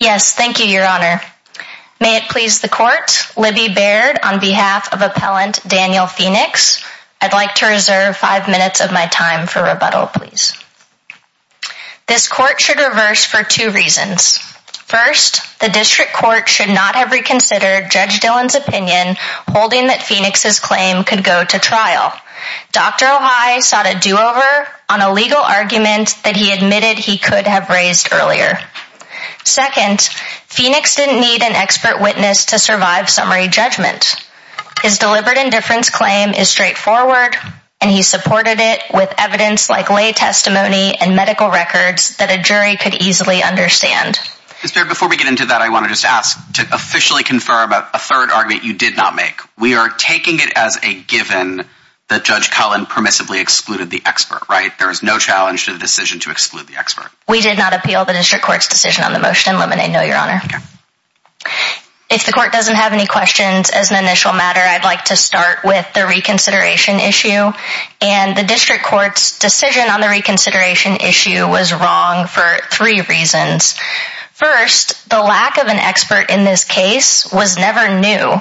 Yes, thank you, your honor. May it please the court, Libby Baird on behalf of appellant Daniel Phoenix, I'd like to reserve five minutes of my time for rebuttal, please. This court should reverse for two reasons. First, the district court should not have reconsidered Judge Dillon's opinion holding that Phoenix's claim could go to trial. Dr. O'Heye sought a do-over on a legal argument that he admitted he could have raised earlier. Second, Phoenix didn't need an expert witness to survive summary judgment. His deliberate indifference claim is straightforward, and he supported it with evidence like lay testimony and medical records that a jury could easily understand. Mr. Baird, before we get into that, I want to just ask to officially confirm a third argument you did not make. We are taking it as a given that Judge Cullen permissively excluded the expert, right? There is no challenge to the decision to exclude the expert. We did not appeal the district court's decision on the motion in limine. No, your honor. If the court doesn't have any questions as an initial matter, I'd like to start with the reconsideration issue. And the district court's decision on the reconsideration issue was wrong for three reasons. First, the lack of an expert in this case was never new.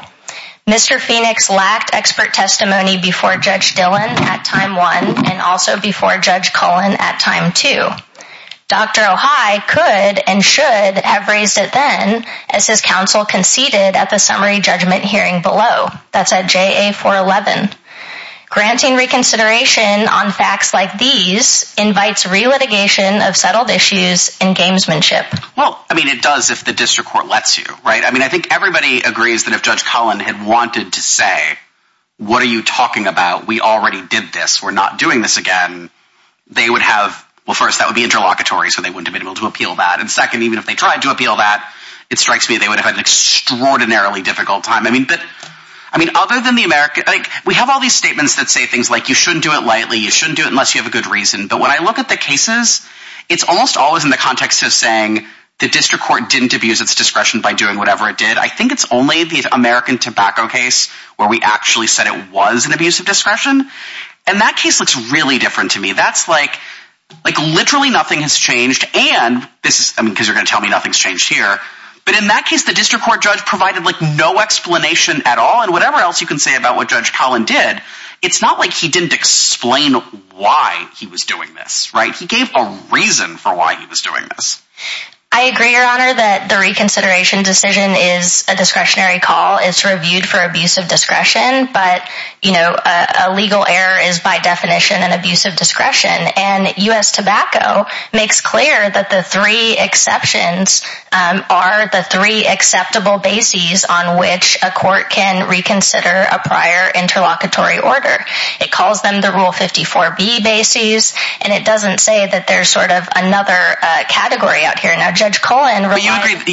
Mr. Phoenix lacked expert testimony before Judge Dillon at time one, and also before Judge Cullen at time two. Dr. O'Heye could and should have raised it then as his counsel conceded at the summary judgment hearing below. That's at JA 411. Granting reconsideration on facts like these invites re-litigation of settled issues and gamesmanship. Well, I mean, it does if the district court lets you, right? I mean, I think everybody agrees that if Judge Cullen had wanted to say, what are you talking about? We already did this. We're not doing this again. They would have, well, first, that would be interlocutory, so they wouldn't have been able to appeal that. And second, even if they tried to appeal that, it strikes me they would have had an extraordinarily difficult time. I mean, other than the American, we have all these statements that say things like you shouldn't do it lightly, you shouldn't do it unless you have a good reason. But when I look at the cases, it's almost always in the context of saying the district court didn't abuse its discretion by doing whatever it did. I think it's only the American tobacco case where we actually said it was an abuse of discretion. And that case looks really different to me. That's like, like literally nothing has changed. And this is because you're going to tell me nothing's changed here. But in that case, the district court judge provided like no explanation at all and whatever else you can say about what Judge Collin did, it's not like he didn't explain why he was doing this, right? He gave a reason for why he was doing this. I agree, your honor, that the reconsideration decision is a discretionary call. It's reviewed for abuse of discretion. But, you know, a legal error is by definition an abuse of discretion. And U.S. tobacco makes clear that the three acceptable bases on which a court can reconsider a prior interlocutory order. It calls them the Rule 54B bases. And it doesn't say that there's sort of another category out here. Now, Judge Collin.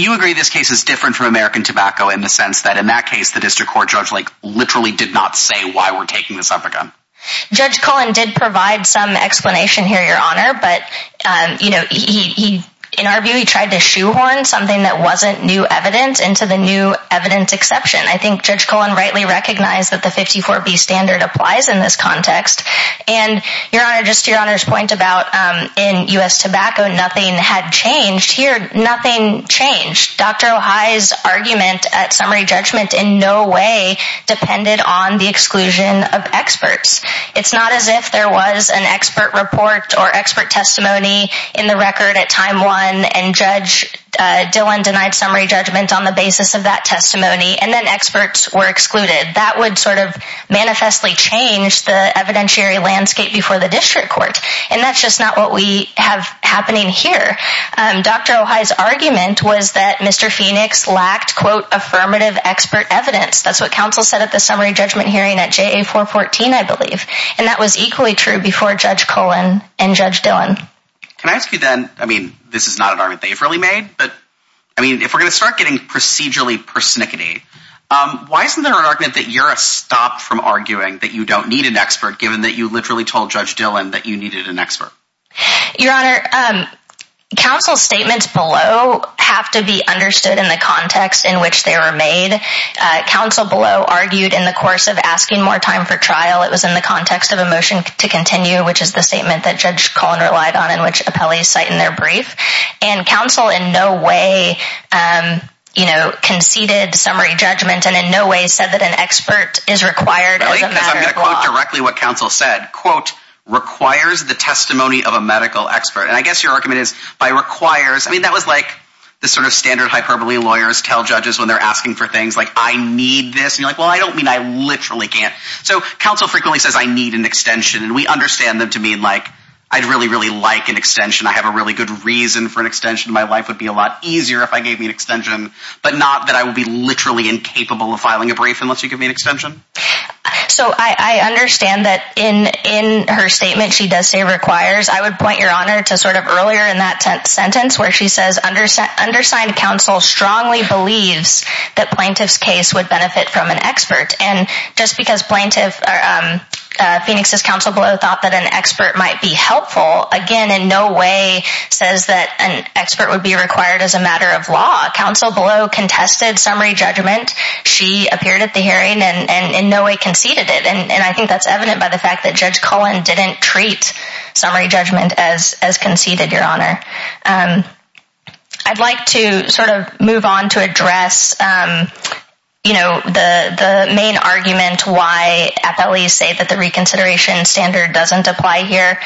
You agree this case is different from American tobacco in the sense that in that case, the district court judge like literally did not say why we're taking this up again. Judge Collin did provide some explanation here, your honor. But, you know, he in our view, he tried to shoehorn something that wasn't new evidence into the new evidence exception. I think Judge Collin rightly recognized that the 54B standard applies in this context. And, your honor, just to your honor's point about in U.S. tobacco, nothing had changed here. Nothing changed. Dr. Ohai's argument at summary judgment in no way depended on the exclusion of experts. It's not as if there was an expert report or expert testimony in the record at time one and Judge Dillon denied summary judgment on the basis of that testimony and then experts were excluded. That would sort of manifestly change the evidentiary landscape before the district court. And that's just not what we have happening here. Dr. Ohai's argument was that Mr. Phoenix lacked quote affirmative expert evidence. That's what counsel said at the summary judgment hearing at JA 414, I believe. And that was equally true before Judge Collin and Judge Dillon. Can I ask you then, I mean, this is not an argument they've really made, but I mean, if we're going to start getting procedurally persnickety, why isn't there an argument that you're a stop from arguing that you don't need an expert given that you literally told Judge Dillon that you needed an expert? Your honor, counsel's statements below have to be understood in the context in which they were made. Counsel below argued in the course of asking more time for trial. It was in the context of a brief, which is the statement that Judge Collin relied on in which appellees cite in their brief. And counsel in no way, um, you know, conceded summary judgment and in no way said that an expert is required as a matter of law. I'm going to quote directly what counsel said, quote, requires the testimony of a medical expert. And I guess your argument is by requires, I mean, that was like the sort of standard hyperbole lawyers tell judges when they're asking for things like, I need this. And you're like, well, I don't mean I literally can't. So counsel frequently says I need an extension and we understand them to mean like, I'd really, really like an extension. I have a really good reason for an extension. My life would be a lot easier if I gave me an extension, but not that I will be literally incapable of filing a brief unless you give me an extension. So I understand that in, in her statement, she does say requires, I would point your honor to sort of earlier in that sentence where she says, understand undersigned counsel strongly believes that plaintiff's case would benefit from an expert. And just because Phoenix's counsel below thought that an expert might be helpful again, in no way says that an expert would be required as a matter of law. Counsel below contested summary judgment. She appeared at the hearing and in no way conceded it. And I think that's evident by the fact that judge Cullen didn't treat summary judgment as, as conceded your honor. I'd like to sort of move on to address, you know, the, the main argument, why FLEs say that the reconsideration standard doesn't apply here.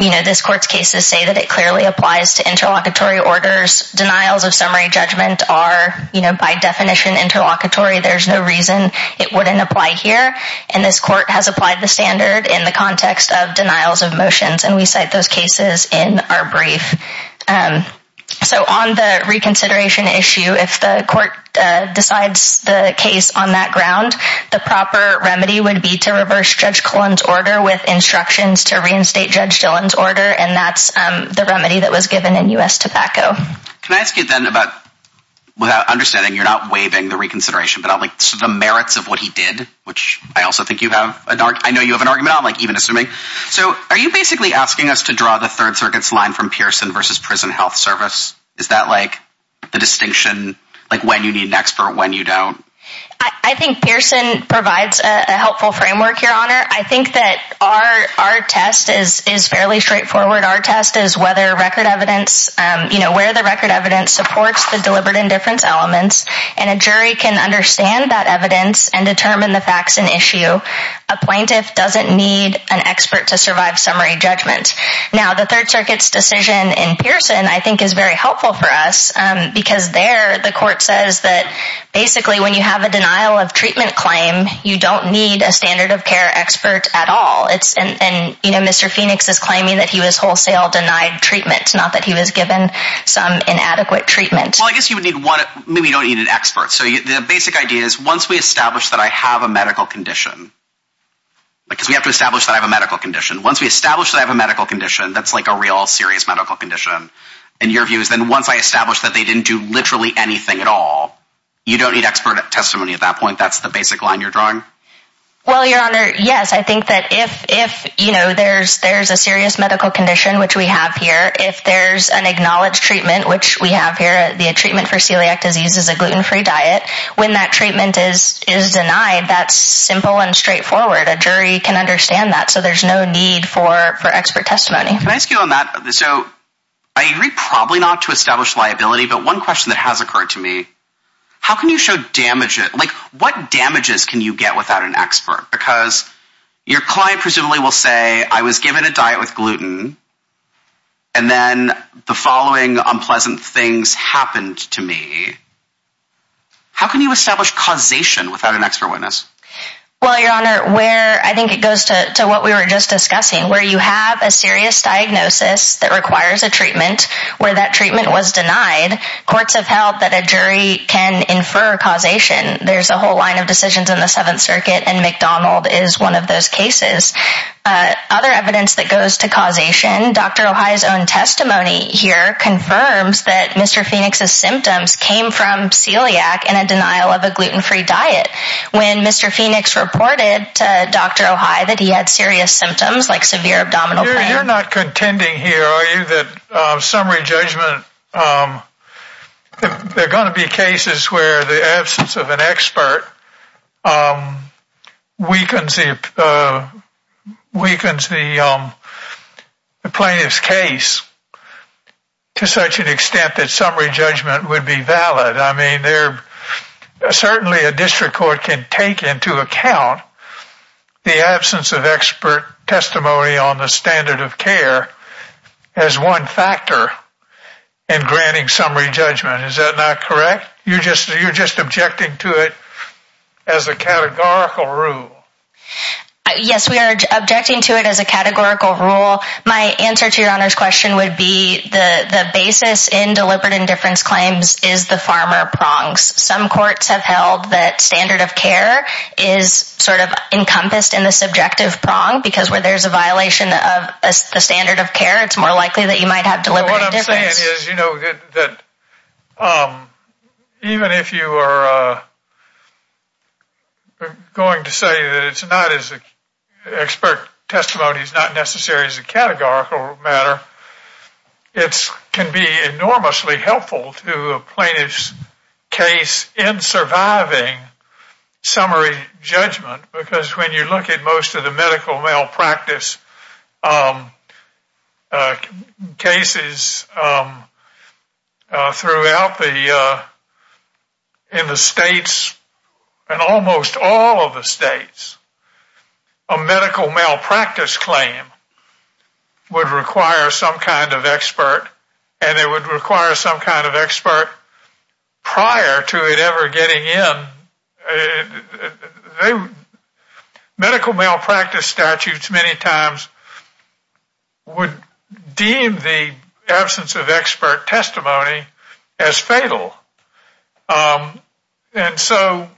You know, this court's cases say that it clearly applies to interlocutory orders. Denials of summary judgment are, you know, by definition, interlocutory. There's no reason it wouldn't apply here. And this court has applied the standard in the context of denials of motions. And we cite those cases in our brief. So on the reconsideration issue, if the court decides the case on that ground, the proper remedy would be to reverse judge Cullen's order with instructions to reinstate judge Dillon's order. And that's the remedy that was given in U.S. tobacco. Can I ask you then about, without understanding, you're not waiving the reconsideration, but I'm like, so the merits of what he did, which I also think you have an argument, I know you have an argument, but like asking us to draw the third circuit's line from Pearson versus Prison Health Service, is that like the distinction, like when you need an expert, when you don't? I think Pearson provides a helpful framework, your honor. I think that our, our test is, is fairly straightforward. Our test is whether record evidence, you know, where the record evidence supports the deliberate indifference elements, and a jury can understand that evidence and determine the facts and issue. A plaintiff doesn't need an expert to survive summary judgment. Now the third circuit's decision in Pearson, I think is very helpful for us, because there the court says that basically when you have a denial of treatment claim, you don't need a standard of care expert at all. It's, and, you know, Mr. Phoenix is claiming that he was wholesale denied treatment, not that he was given some inadequate treatment. Well, I guess you would need one, maybe you don't need an expert. So the basic idea is once we establish that I have a medical condition, because we have to establish that I have a medical condition, once we establish that I have a medical condition, that's like a real serious medical condition, in your views, then once I establish that they didn't do literally anything at all, you don't need expert testimony at that point. That's the basic line you're drawing? Well, your honor, yes, I think that if, if, you know, there's, there's a serious medical condition, which we have here, if there's an acknowledged treatment, which we have here, the treatment for celiac disease is a gluten-free diet, when that treatment is, is denied, that's simple and straightforward. A jury can understand that, so there's no need for, for expert testimony. Can I ask you on that, so, I agree probably not to establish liability, but one question that has occurred to me, how can you show damage, like, what damages can you get without an expert? Because your client presumably will say, I was given a diet with gluten, and then the following unpleasant things happened to me. How can you establish causation without an expert witness? Well, your honor, where, I think it goes to, to what we were just discussing, where you have a serious diagnosis that requires a treatment, where that treatment was denied, courts have held that a jury can infer causation. There's a whole line of decisions in the Seventh Circuit, and McDonald is one of those cases. Other evidence that goes to causation, Dr. O'Hei's own testimony here confirms that Mr. Phoenix's symptoms came from celiac in a denial of a gluten-free diet, when Mr. Phoenix reported to Dr. O'Hei that he had serious symptoms, like severe abdominal pain. You're not contending here, are you, that summary judgment, there are going to be cases where the case to such an extent that summary judgment would be valid. I mean, there, certainly a district court can take into account the absence of expert testimony on the standard of care as one factor in granting summary judgment. Is that not correct? You're just, you're just objecting to it as a categorical rule. My answer to your Honor's question would be the, the basis in deliberate indifference claims is the farmer prongs. Some courts have held that standard of care is sort of encompassed in the subjective prong, because where there's a violation of a standard of care, it's more likely that you might have deliberate indifference. What I'm saying is, you know, that, even if you are going to say that it's not as, expert testimony is not necessary as a categorical matter, it can be enormously helpful to a plaintiff's case in surviving summary judgment, because when you look at most of the medical malpractice cases throughout the, in the states, and almost all of the states, a medical malpractice claim would require some kind of expert, and it medical malpractice statutes many times would deem the absence of expert testimony as fatal. And so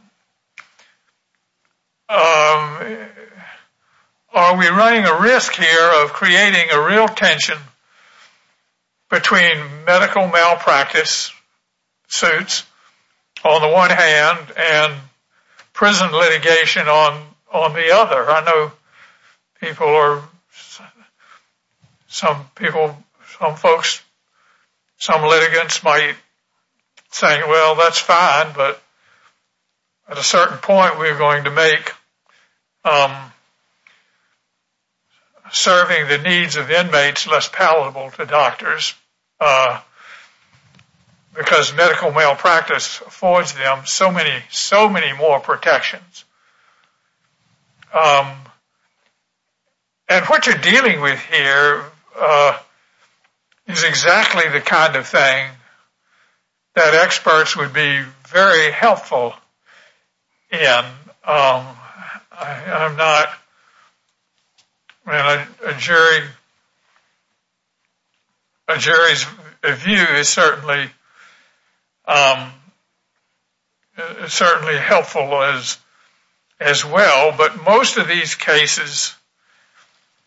are we running a risk here of creating a real tension between medical malpractice suits on the one hand and prison litigation on, on the other? I know people are, some people, some folks, some litigants might say, well, that's fine, but at a certain point we're going to make serving the needs of inmates less palatable to doctors, because medical malpractice affords them so many, so many more protections. And what you're dealing with here is exactly the kind of thing that experts would be very helpful in. I'm not, I mean, a jury, a jury's view is certainly helpful as well, but most of these cases,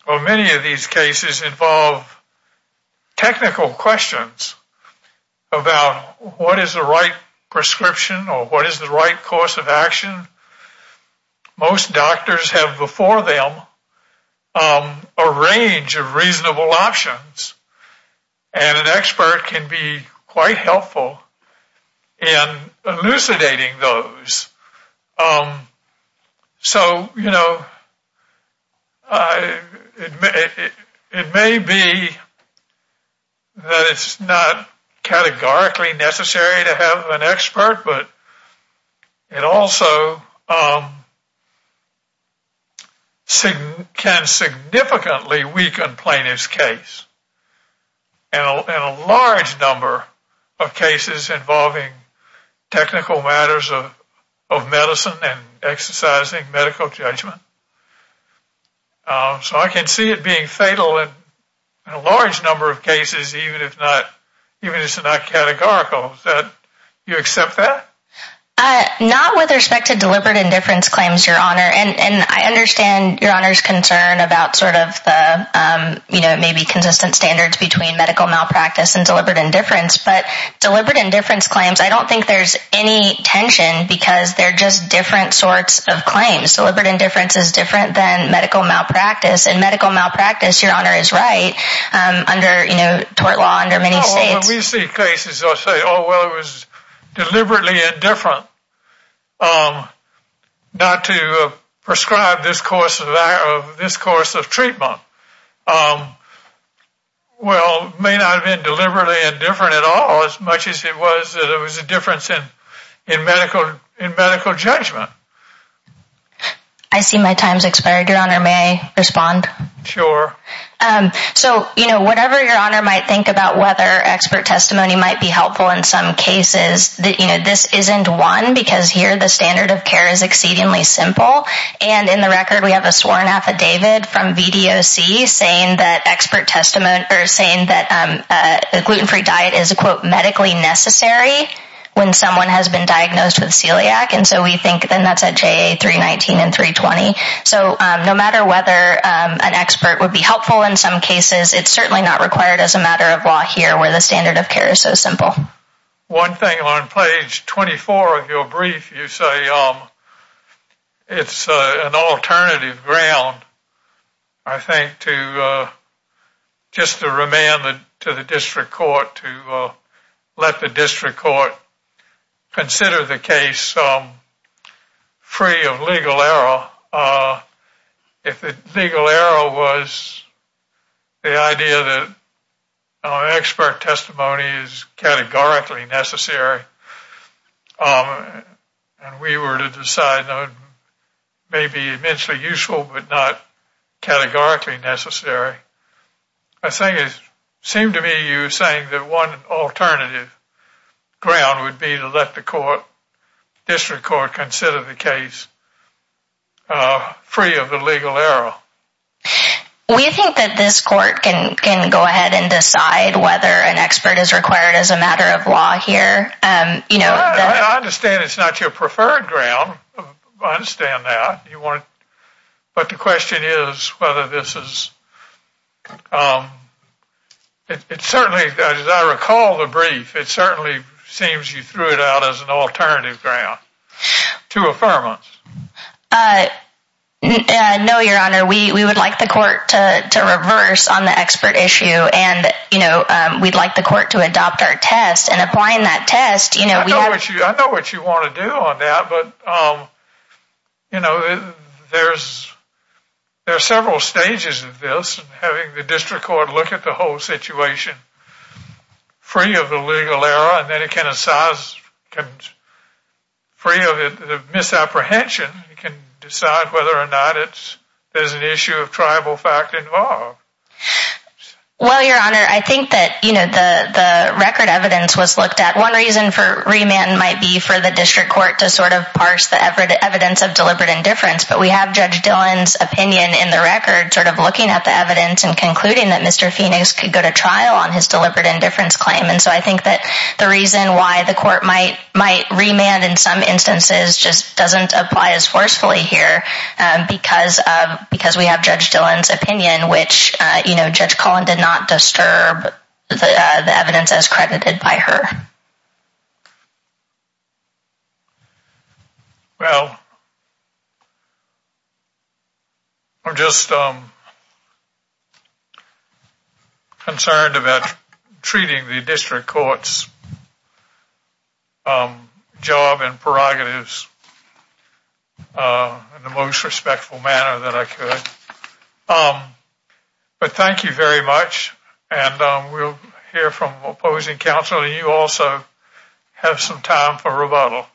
or many of these cases, involve technical questions about what is the right prescription, or what is the right course of action. Most doctors have before them a range of reasonable options, and an expert can be quite helpful in elucidating those. So, you know, it may be that it's not categorically necessary to have an expert, but it also can significantly weaken plaintiff's case, and a large number of cases involving technical matters of medicine and exercising medical judgment. So, I can see it being fatal in a large number of cases, even if it's not categorical. You accept that? Not with respect to deliberate indifference claims, Your Honor, and I understand Your Honor's concern about sort of the, you know, maybe consistent standards between medical malpractice and deliberate indifference, but deliberate indifference claims, I don't think there's any tension, because they're just different sorts of claims. Deliberate indifference claims is different than medical malpractice, and medical malpractice, Your Honor, is right, under, you know, tort law under many states. No, when we see cases, I'll say, oh, well, it was deliberately indifferent not to prescribe this course of treatment. Well, it may not have been deliberately indifferent at all, as much as it was that in medical judgment. I see my time's expired, Your Honor. May I respond? Sure. So, you know, whatever Your Honor might think about whether expert testimony might be helpful in some cases, that, you know, this isn't one, because here the standard of care is exceedingly simple, and in the record we have a sworn affidavit from VDOC saying that expert testimony, or saying that a gluten-free diet is, quote, medically necessary when someone has been diagnosed with celiac, and so we think then that's at JA 319 and 320. So, no matter whether an expert would be helpful in some cases, it's certainly not required as a matter of law here where the standard of care is so simple. One thing on page 24 of your brief, you say it's an alternative ground, I think, to just to remand to the district court to let the district court consider the case free of legal error. If the legal error was the idea that expert testimony is categorically necessary, and we were to decide that it may be eventually useful but not categorically necessary, I think it seemed to me you were saying that one alternative ground would be to let the court, district court, consider the case free of the legal error. We think that this court can go ahead and decide whether an expert is required as a matter of law here. I understand it's not your preferred ground, I understand that, but the question is whether this is, it certainly, as I recall the brief, it certainly seems you threw it out as an alternative ground to affirmance. No, your honor, we would like the court to reverse on the expert issue and, you know, we'd like the court to adopt our test and applying that test, you know, I know what you want to do on that, but, you know, there's several stages of this, having the district court look at the whole situation free of the legal error and then it can, free of the misapprehension, it can decide whether or not there's an issue of tribal fact involved. Well, your honor, I think that, you know, the record evidence was looked at. One reason for remand might be for the district court to sort of parse the evidence of deliberate indifference, but we have Judge Dillon's opinion in the record sort of looking at the evidence and concluding that Mr. Phoenix could go to trial on his deliberate indifference claim, and so I think that the reason why the court might remand in some instances just doesn't apply as forcefully here because we have Judge Dillon's opinion, which, you know, Judge Collin did not disturb the evidence as credited by her. Well, I'm just concerned about treating the district court's job and prerogatives in the most respectful manner that I could, but thank you very much, and we'll hear from opposing counsel, and you also have some time for rebuttal.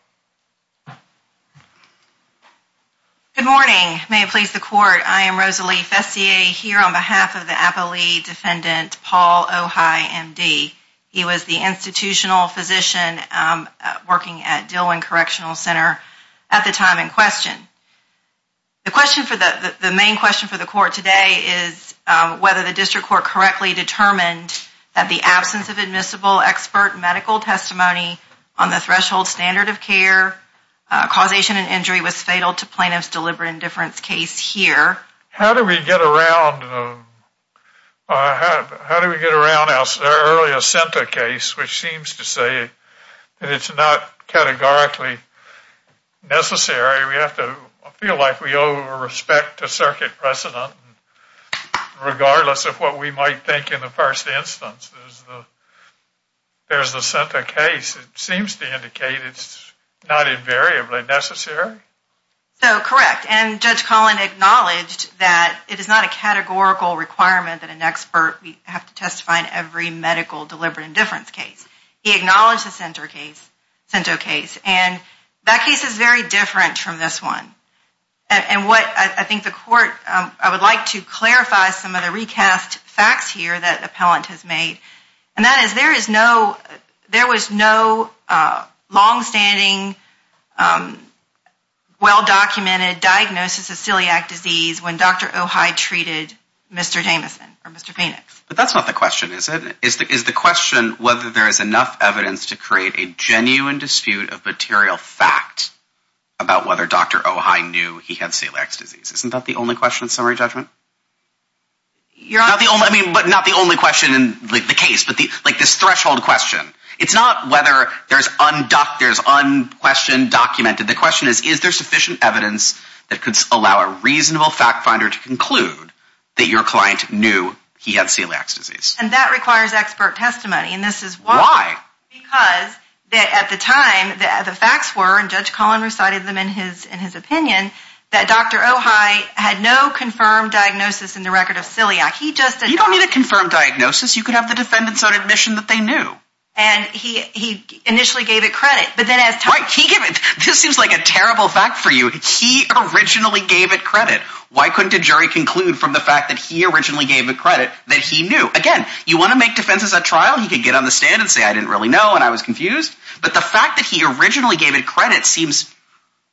Good morning. May it please the court, I am Rosalie Fessier here on behalf of the Appley defendant Paul Ojai, MD. He was the institutional physician working at Dillon Correctional Center at the time in question. The question for the, the main question for the court today is whether the district court correctly determined that the absence of admissible expert medical testimony on the threshold standard of care causation and injury was fatal to plaintiff's deliberate indifference case here. How do we get around, how do we get around our earlier center case, which seems to say that it's not categorically necessary, we have to feel like we owe respect to circuit precedent regardless of what we might think in the first instance. There's the, there's the center case. It seems to indicate it's not invariably necessary. So correct, and Judge Collin acknowledged that it is not a categorical requirement that an expert we have to testify in every medical deliberate indifference case. He acknowledged the center case, center case, and that case is very different from this one, and what I think the court, I would like to clarify some of the recast facts here that appellant has made, and that is there is no, there was no long-standing well-documented diagnosis of celiac disease when Dr. Ojai treated Mr. Jamison or Mr. Phoenix. But that's not the question, is it? Is the question whether there is enough evidence to create a genuine dispute of material fact about whether Dr. Ojai knew he had celiac disease. Isn't that the only question in summary judgment? You're not the only, I mean, but not the only question in the case, but the, like this threshold question. It's not whether there's un-doc, there's un-questioned, documented. The question is, is there sufficient evidence that could allow a reasonable fact finder to conclude that your client knew he had celiac disease? And that requires expert testimony, and this is why, because at the time, the facts were, and Judge Collin recited them in his opinion, that Dr. Ojai had no confirmed diagnosis in the record of celiac. He just, You don't need a confirmed diagnosis. You could have the defendants on admission that they knew. And he initially gave it credit, but then as time, Right, he gave it, this seems like a terrible fact for you. He originally gave it credit. Why couldn't a jury conclude from the fact that he originally gave it credit that he knew? Again, you want to make defenses at trial? He could get on the stand and say, I didn't really know, and I was confused. But the fact that he originally gave it credit seems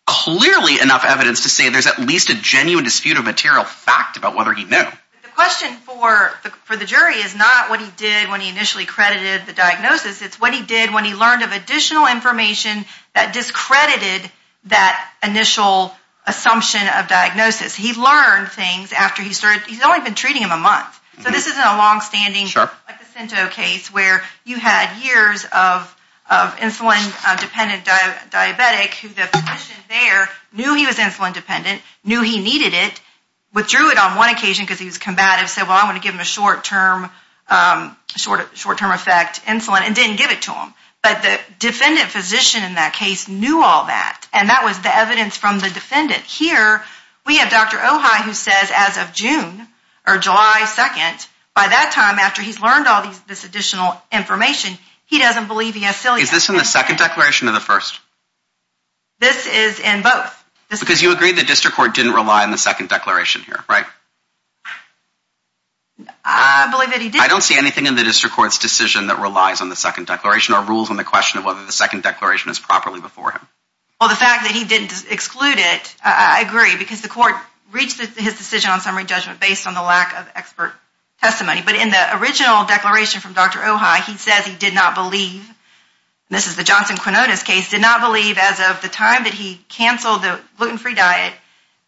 clearly enough evidence to say there's at least a genuine dispute of material fact about whether he knew. The question for the jury is not what he did when he initially credited the diagnosis. It's what he did when he learned of additional information that discredited that initial assumption of diagnosis. He learned things after he started, he's only been treating him a month. So this isn't a longstanding placenta case where you had years of insulin dependent diabetic who the physician there knew he was insulin dependent, knew he needed it, withdrew it on one occasion because he was combative, said, well, I want to give him a short term effect insulin and didn't give it to him. But the defendant physician in that case knew all that. And that was the evidence from the defendant. Here we have Dr. Ojai who says as of June or July 2nd, by that time after he's learned all this additional information, he doesn't believe he has psilocybin. Is this in the second declaration or the first? This is in both. Because you agree the district court didn't rely on the second declaration here, right? I believe that he did. I don't see anything in the district court's decision that relies on the second declaration or rules on the question of whether the second declaration is properly before him. Well, the fact that he didn't exclude it, I agree, because the court reached his decision on summary judgment based on the lack of expert testimony. But in the original declaration from Dr. Ojai, he says he did not believe, this is the Johnson Quinonez case, did not believe as of the time that he canceled the gluten free diet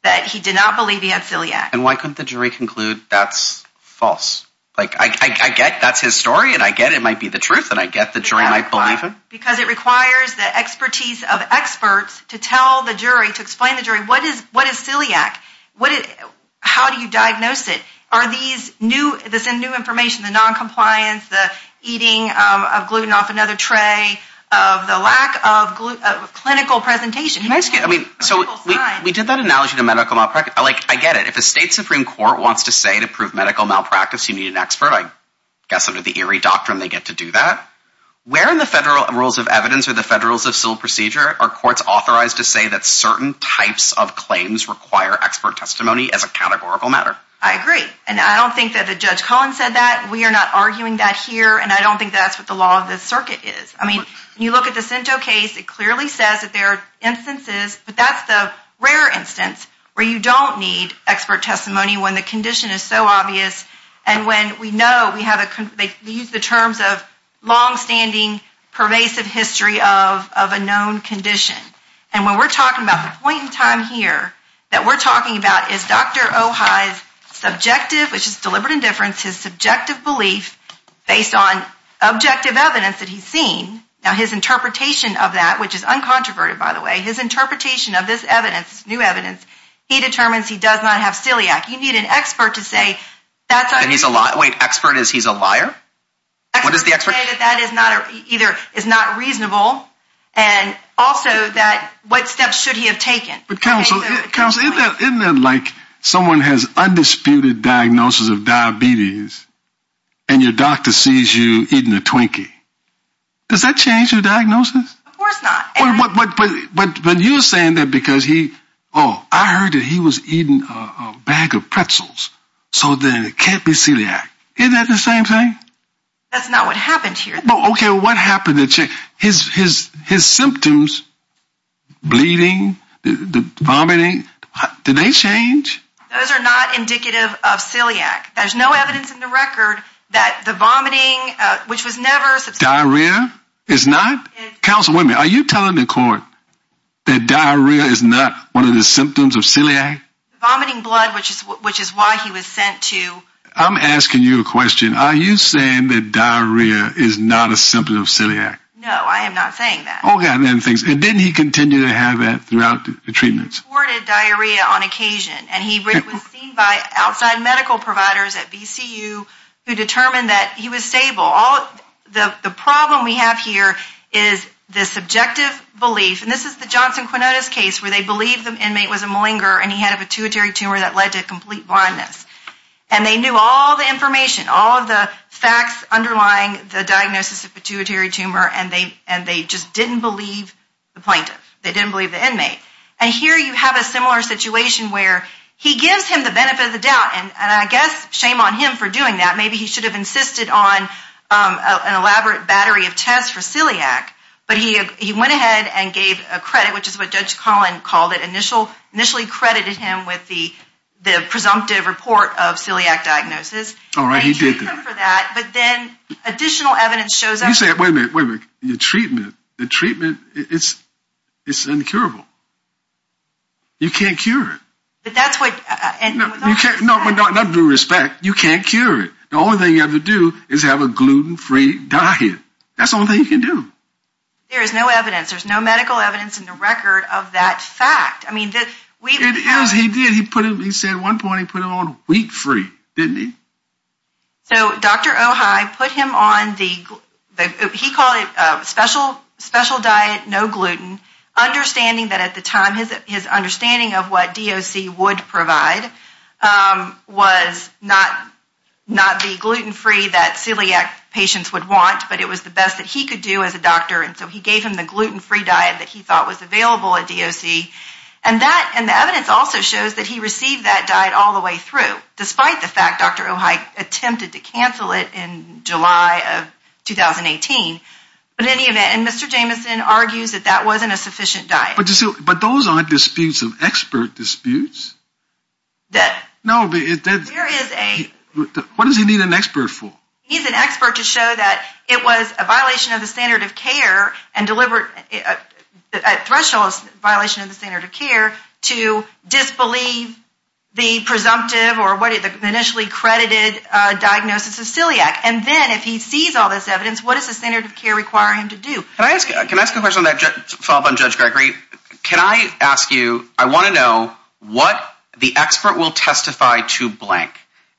that he did not believe he had celiac. And why couldn't the jury conclude that's false? Like, I get that's his story and I get it might be the truth and I get the jury might believe him. Because it requires the expertise of experts to tell the jury, to explain to the jury, what is celiac? How do you diagnose it? Are these new information, the noncompliance, the eating of gluten off another tray, of the lack of clinical presentation? Can I ask you, so we did that analogy to medical malpractice. I get it. If a state supreme court wants to say to prove medical malpractice, you need an expert. I guess under the ERIE doctrine, they get to do that. Where in the federal rules of evidence or the federal civil procedure are courts authorized to say that certain types of claims require expert testimony as a categorical matter? I agree. And I don't think that the Judge Collins said that. We are not arguing that here. And I don't think that's what the law of the circuit is. I mean, you look at the Sinto case, it clearly says that there are instances, but that's the rare instance where you don't need expert testimony when the condition is so obvious. And when we know we have a, they use the terms of longstanding, pervasive history of a known condition. And when we're talking about the point in time here, that we're talking about is Dr. Ojai's subjective, which is deliberate indifference, his subjective belief based on objective evidence that he's seen. Now, his interpretation of that, which is uncontroverted, by the way, his interpretation of this evidence, new evidence, he determines he does not have celiac. You need an expert to say that he's a lot. Wait, expert is he's a liar. What does the expert say that that is not either is not reasonable. And also that, what steps should he have taken? Counselor, isn't that like someone has undisputed diagnosis of diabetes and your doctor sees you eating a Twinkie. Does that change your diagnosis? Of course not. But you're saying that because he, I heard that he was eating a bag of pretzels. So then it can't be celiac. Isn't that the same thing? That's not what happened here. Okay, what happened? His symptoms, bleeding, vomiting, did they change? Those are not indicative of celiac. There's no evidence in the record that the vomiting, which was never. Diarrhea is not. Councilwoman, are you telling the court that diarrhea is not one of the symptoms of celiac? Vomiting blood, which is why he was sent to. I'm asking you a question. Are you saying that diarrhea is not a symptom of celiac? No, I am not saying that. Okay, and then things, and didn't he continue to have that throughout the treatments? Reported diarrhea on occasion, and he was seen by outside medical providers at VCU who determined that he was stable. The problem we have here is the subjective belief, and this is the Johnson-Quinonez case where they believe the inmate was a malinger, and he had a pituitary tumor that led to complete blindness. And they knew all the information, all of the facts underlying the diagnosis of pituitary tumor, and they just didn't believe the plaintiff. They didn't believe the inmate. And here you have a similar situation where he gives him the benefit of the doubt, and I guess shame on him for doing that. Maybe he should have insisted on an elaborate battery of tests for celiac, but he went ahead and gave a credit, which is what Judge Collin called it, initially credited him with the presumptive report of celiac diagnosis. All right, he did that. But then additional evidence shows up. You say, wait a minute, wait a minute. The treatment, the treatment, it's incurable. You can't cure it. But that's what. You can't, no, no, not due respect. You can't cure it. The only thing you have to do is have a gluten-free diet. That's the only thing you can do. There is no evidence. There's no medical evidence in the record of that fact. I mean, it is. He did. He put it, he said at one point he put it on wheat-free, didn't he? So Dr. Ojai put him on the, he called it a special diet, no gluten, understanding that his understanding of what DOC would provide was not the gluten-free that celiac patients would want, but it was the best that he could do as a doctor. And so he gave him the gluten-free diet that he thought was available at DOC. And that, and the evidence also shows that he received that diet all the way through, despite the fact Dr. Ojai attempted to cancel it in July of 2018. But in any event, and Mr. Jamison argues that that wasn't a sufficient diet. But those aren't disputes of expert disputes. No, there is a... What does he need an expert for? He's an expert to show that it was a violation of the standard of care and deliberate, threshold violation of the standard of care to disbelieve the presumptive or what the initially credited diagnosis of celiac. And then if he sees all this evidence, what does the standard of care require him to do? Can I ask a question that followed up on Judge Gregory? Can I ask you, I want to know what the expert will testify to blank.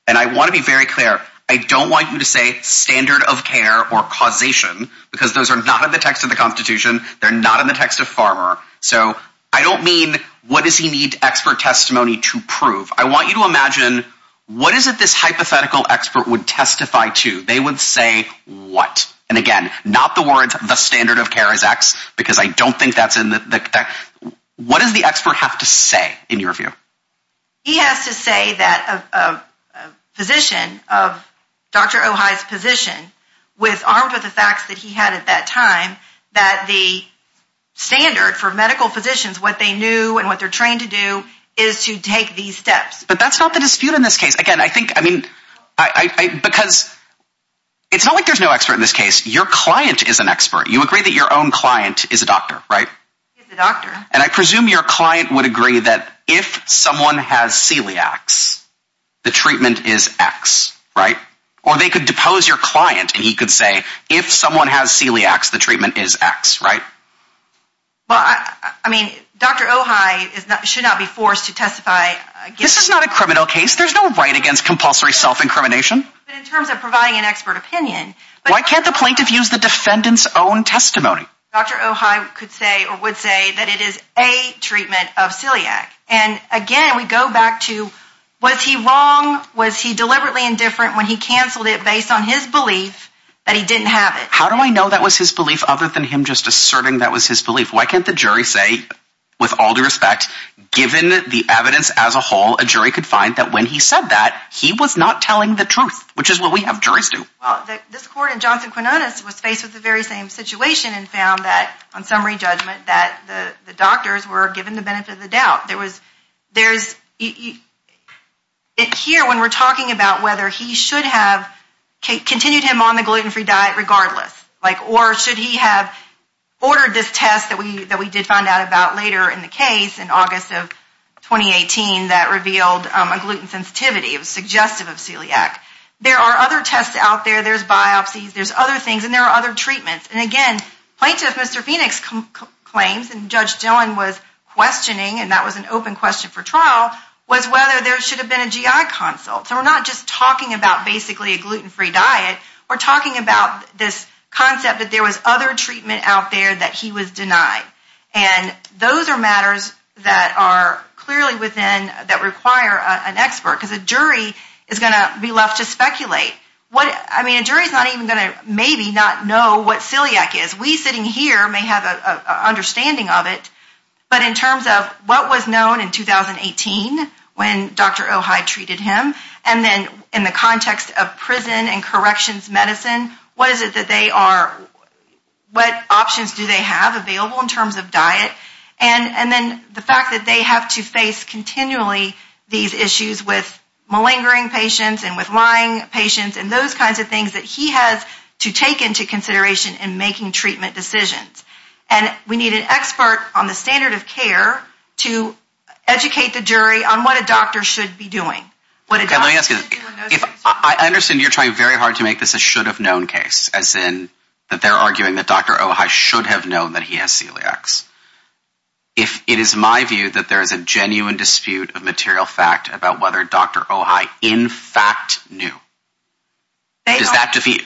And I want to be very clear. I don't want you to say standard of care or causation, because those are not in the text of the constitution. They're not in the text of Farmer. So I don't mean, what does he need expert testimony to prove? I want you to imagine, what is it this hypothetical expert would testify to? They would say what? And again, not the words, the standard of care is X, because I don't think that's in the text. What does the expert have to say in your view? He has to say that a physician of Dr. Ojai's position with armed with the facts that he had at that time, that the standard for medical physicians, what they knew and what they're trained to do is to take these steps. But that's not the dispute in this case. Again, I think, I mean, because it's not like there's no expert in this case. Your client is an expert. You agree that your own client is a doctor, right? He's a doctor. And I presume your client would agree that if someone has celiacs, the treatment is X, right? Or they could depose your client and he could say, if someone has celiacs, the treatment is X, right? Well, I mean, Dr. Ojai should not be forced to testify. This is not a criminal case. There's no right against compulsory self-incrimination in terms of providing an expert opinion. Why can't the plaintiff use the defendant's own testimony? Dr. Ojai could say or would say that it is a treatment of celiac. And again, we go back to, was he wrong? Was he deliberately indifferent when he canceled it based on his belief that he didn't have it? How do I know that was his belief other than him just asserting that was his belief? Why can't the jury say, with all due respect, given the evidence as a whole, a jury could find that when he said that, he was not telling the truth, which is what we have juries do. Well, this court in Johnson-Quinones was faced with the very same situation and found that on summary judgment, that the doctors were given the benefit of the doubt. There was, there's, here when we're talking about whether he should have continued him on the gluten-free diet regardless, like, or should he have ordered this test that we have on gluten sensitivity, it was suggestive of celiac. There are other tests out there, there's biopsies, there's other things, and there are other treatments. And again, Plaintiff Mr. Phoenix claims, and Judge Dillon was questioning, and that was an open question for trial, was whether there should have been a GI consult. So we're not just talking about basically a gluten-free diet, we're talking about this concept that there was other treatment out there that he was denied. And those are matters that are clearly within, that require an expert, because a jury is going to be left to speculate. What, I mean, a jury's not even going to maybe not know what celiac is. We sitting here may have an understanding of it, but in terms of what was known in 2018 when Dr. Ojai treated him, and then in the context of prison and corrections medicine, what is it that they are, what options do they have available in terms of diet, and then the fact that they have to face continually these issues with malingering patients and with lying patients, and those kinds of things that he has to take into consideration in making treatment decisions. And we need an expert on the standard of care to educate the jury on what a doctor should be doing. Let me ask you this. I understand you're trying very hard to make this a should-have-known case, as in that they're arguing that Dr. Ojai should have known that he has celiacs. If it is my view that there is a genuine dispute of material fact about whether Dr. Ojai in fact knew, does that defeat,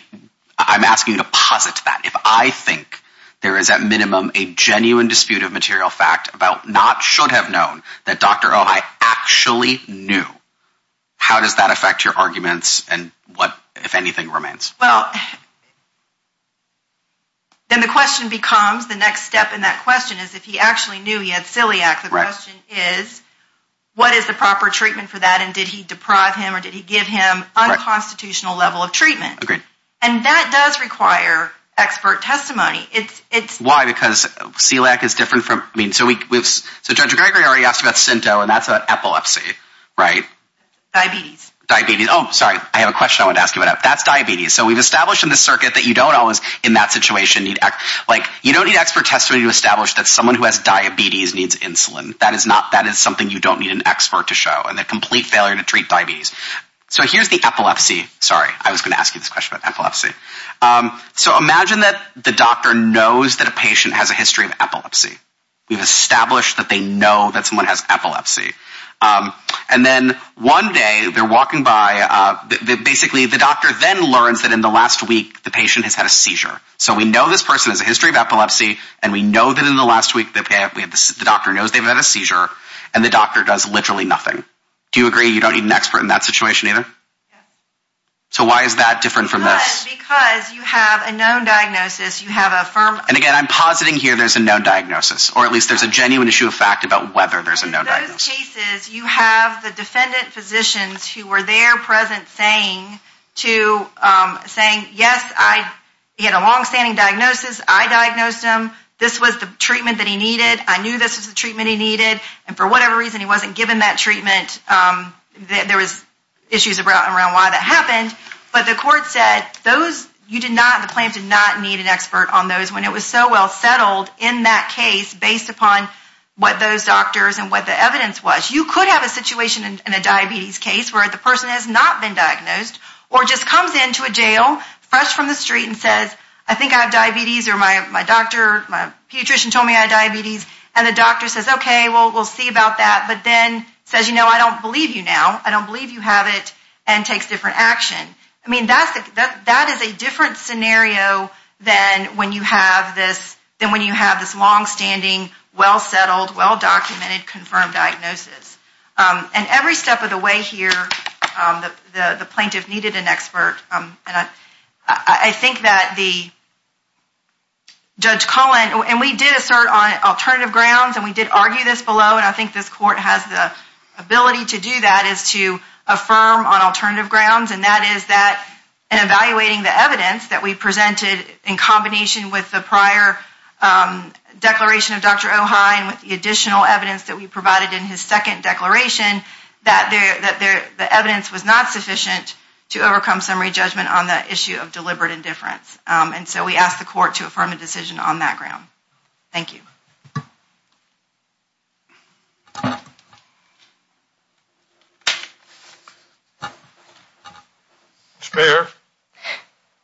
I'm asking you to posit that. If I think there is at minimum a genuine dispute of material fact about not should have known that Dr. Ojai actually knew, how does that affect your arguments and what, if anything, remains? Well, then the question becomes, the next step in that question is if he actually knew he had celiac, the question is, what is the proper treatment for that and did he deprive him or did he give him unconstitutional level of treatment? And that does require expert testimony. Why? Because celiac is different from, so Judge Gregory already asked about synto and that's about epilepsy, right? Diabetes. Diabetes. Oh, sorry. I have a question I wanted to ask you about. That's diabetes. So we've established in the circuit that you don't always, in that situation, need, like, you don't need expert testimony to establish that someone who has diabetes needs insulin. That is not, that is something you don't need an expert to show and a complete failure to treat diabetes. So here's the epilepsy. Sorry, I was going to ask you this question about epilepsy. So imagine that the doctor knows that a patient has a history of epilepsy. We've established that they know that someone has epilepsy. And then one day they're walking by, basically the doctor then learns that in the last week the patient has had a seizure. So we know this person has a history of epilepsy and we know that in the last week the doctor knows they've had a seizure and the doctor does literally nothing. Do you agree you don't need an expert in that situation either? So why is that different from this? Because you have a known diagnosis. You have a firm... And again, I'm positing here there's a known diagnosis, or at least there's a genuine issue of fact about whether there's a known diagnosis. In those cases, you have the defendant physicians who were there present saying to, saying, yes, I, he had a longstanding diagnosis. I diagnosed him. This was the treatment that he needed. I knew this was the treatment he needed. And for whatever reason, he wasn't given that treatment. There was issues around why that happened. But the court said those, you did not, the plaintiff did not need an expert on those when it was so well settled in that case based upon what those doctors and what the evidence was. You could have a situation in a diabetes case where the person has not been diagnosed or just comes into a jail fresh from the street and says, I think I have diabetes or my doctor, my pediatrician told me I have diabetes. And the doctor says, okay, well, we'll see about that. But then says, you know, I don't believe you now. I don't believe you have it and takes different action. I mean, that's, that is a different scenario than when you have this, than when you have this longstanding, well settled, well documented, confirmed diagnosis. And every step of the way here, the plaintiff needed an expert. I think that the Judge Cullen, and we did assert on alternative grounds and we did argue this below. And I think this court has the ability to do that is to affirm on alternative grounds and that is that in evaluating the evidence that we presented in combination with the prior declaration of Dr. O'Hein with the additional evidence that we provided in his second declaration that the evidence was not sufficient to overcome summary judgment on the issue of deliberate indifference. And so we asked the court to affirm a decision on that ground. Thank you.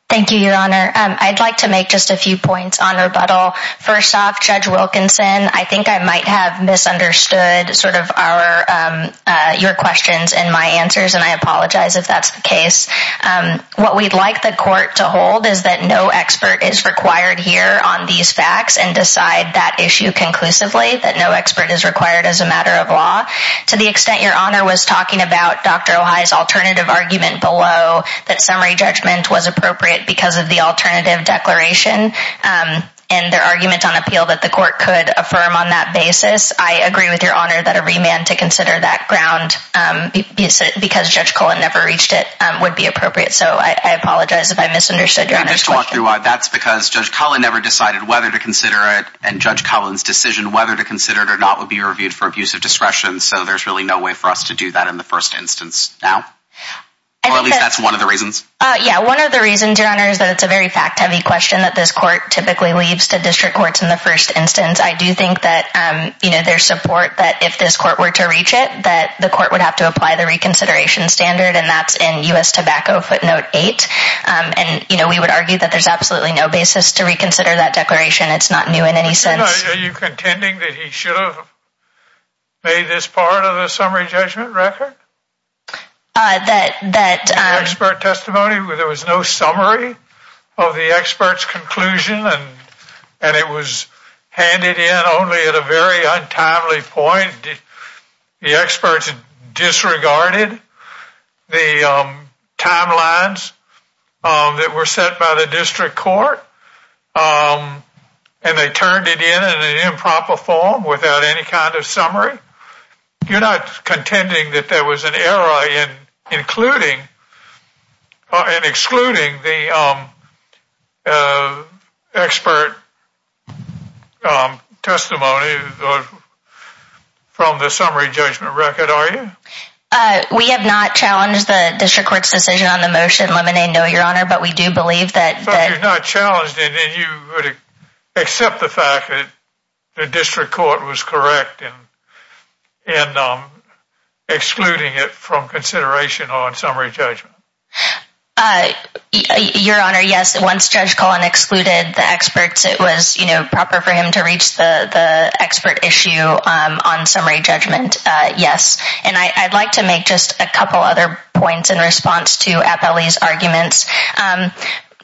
Thank you, Your Honor. I'd like to make just a few points on rebuttal. First off, Judge Wilkinson, I think I might have misunderstood sort of our, your questions and my answers. And I apologize if that's the case. What we'd like the court to hold is that no expert is required here on these facts and decide that issue conclusively, that no expert is required as a matter of law. To the extent Your Honor was talking about Dr. O'Hein's alternative argument below that summary judgment was appropriate because of the alternative declaration and their argument on appeal that the court could affirm on that basis. I agree with Your Honor that a remand to consider that ground because Judge Cullen never reached it would be appropriate. So I apologize if I misunderstood Your Honor's question. That's because Judge Cullen never decided whether to consider it. And Judge Cullen's decision whether to consider it or not would be reviewed for abusive discretion. So there's really no way for us to do that in the first instance now. Or at least that's one of the reasons. Yeah, one of the reasons, Your Honor, is that it's a very fact-heavy question that this court typically leaves to district courts in the first instance. I do think that there's support that if this court were to reach it, that the court would have to apply the reconsideration standard. And that's in U.S. Tobacco footnote eight. And, you know, we would argue that there's absolutely no basis to reconsider that declaration. It's not new in any sense. Are you contending that he should have made this part of the summary judgment record? That expert testimony where there was no summary of the expert's conclusion and it was handed in only at a very untimely point. The experts disregarded the timelines that were set by the district court. And they turned it in in an improper form without any kind of summary. You're not contending that there was an error in including or in excluding the expert testimony from the summary judgment record, are you? We have not challenged the district court's decision on the motion limiting. No, Your Honor, but we do believe that. So you're not challenged and you would accept the fact that the district court was correct in excluding it from consideration on summary judgment. Uh, Your Honor, yes. Once Judge Cullen excluded the experts, it was, you know, proper for him to reach the expert issue on summary judgment. Yes. And I'd like to make just a couple other points in response to Appellee's arguments.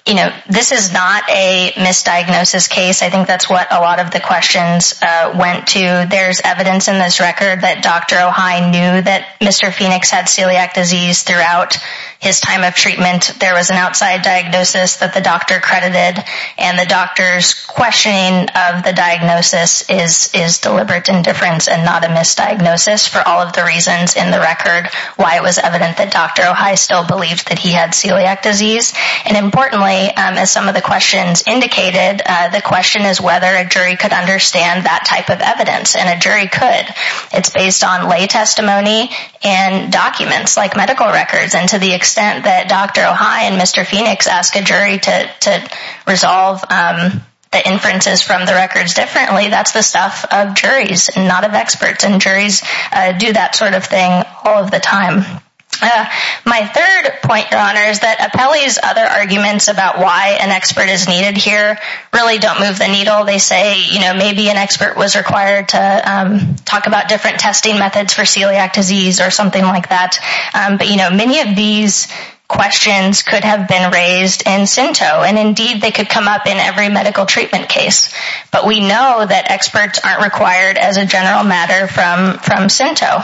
You know, this is not a misdiagnosis case. I think that's what a lot of the questions went to. There's evidence in this record that Dr. O'Hei knew that Mr. Phoenix had celiac disease throughout his time of treatment. There was an outside diagnosis that the doctor credited. And the doctor's questioning of the diagnosis is deliberate indifference and not a misdiagnosis for all of the reasons in the record why it was evident that Dr. O'Hei still believed that he had celiac disease. And importantly, as some of the questions indicated, the question is whether a jury could understand that type of evidence, and a jury could. It's based on lay testimony and documents like medical records. And to the extent that Dr. O'Hei and Mr. Phoenix ask a jury to resolve the inferences from the records differently, that's the stuff of juries, not of experts. And juries do that sort of thing all of the time. My third point, Your Honor, is that Appellee's other arguments about why an expert is needed here really don't move the needle. They say maybe an expert was required to talk about different testing methods for celiac disease or something like that. But many of these questions could have been raised in SINTO. And indeed, they could come up in every medical treatment case. But we know that experts aren't required as a general matter from SINTO.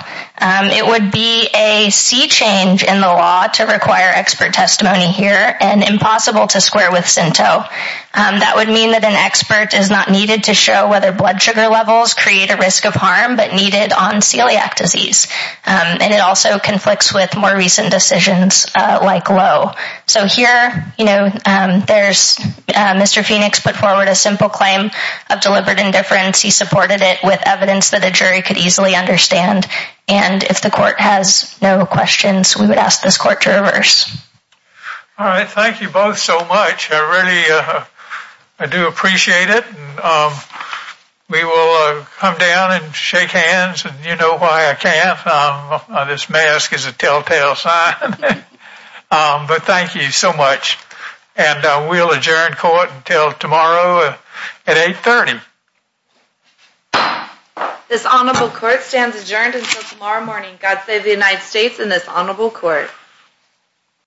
It would be a sea change in the law to require expert testimony here, and impossible to square with SINTO. That would mean that an expert is not needed to show whether blood sugar levels create a risk of harm, but needed on celiac disease. And it also conflicts with more recent decisions like Lowe. So here, Mr. Phoenix put forward a simple claim of deliberate indifference. He supported it with evidence that a jury could easily understand. And if the court has no questions, we would ask this court to reverse. All right. Thank you both so much. I really do appreciate it. We will come down and shake hands. And you know why I can't. This mask is a telltale sign. But thank you so much. And we'll adjourn court until tomorrow at 830. This honorable court stands adjourned until tomorrow morning. God save the United States and this honorable court. Thank you.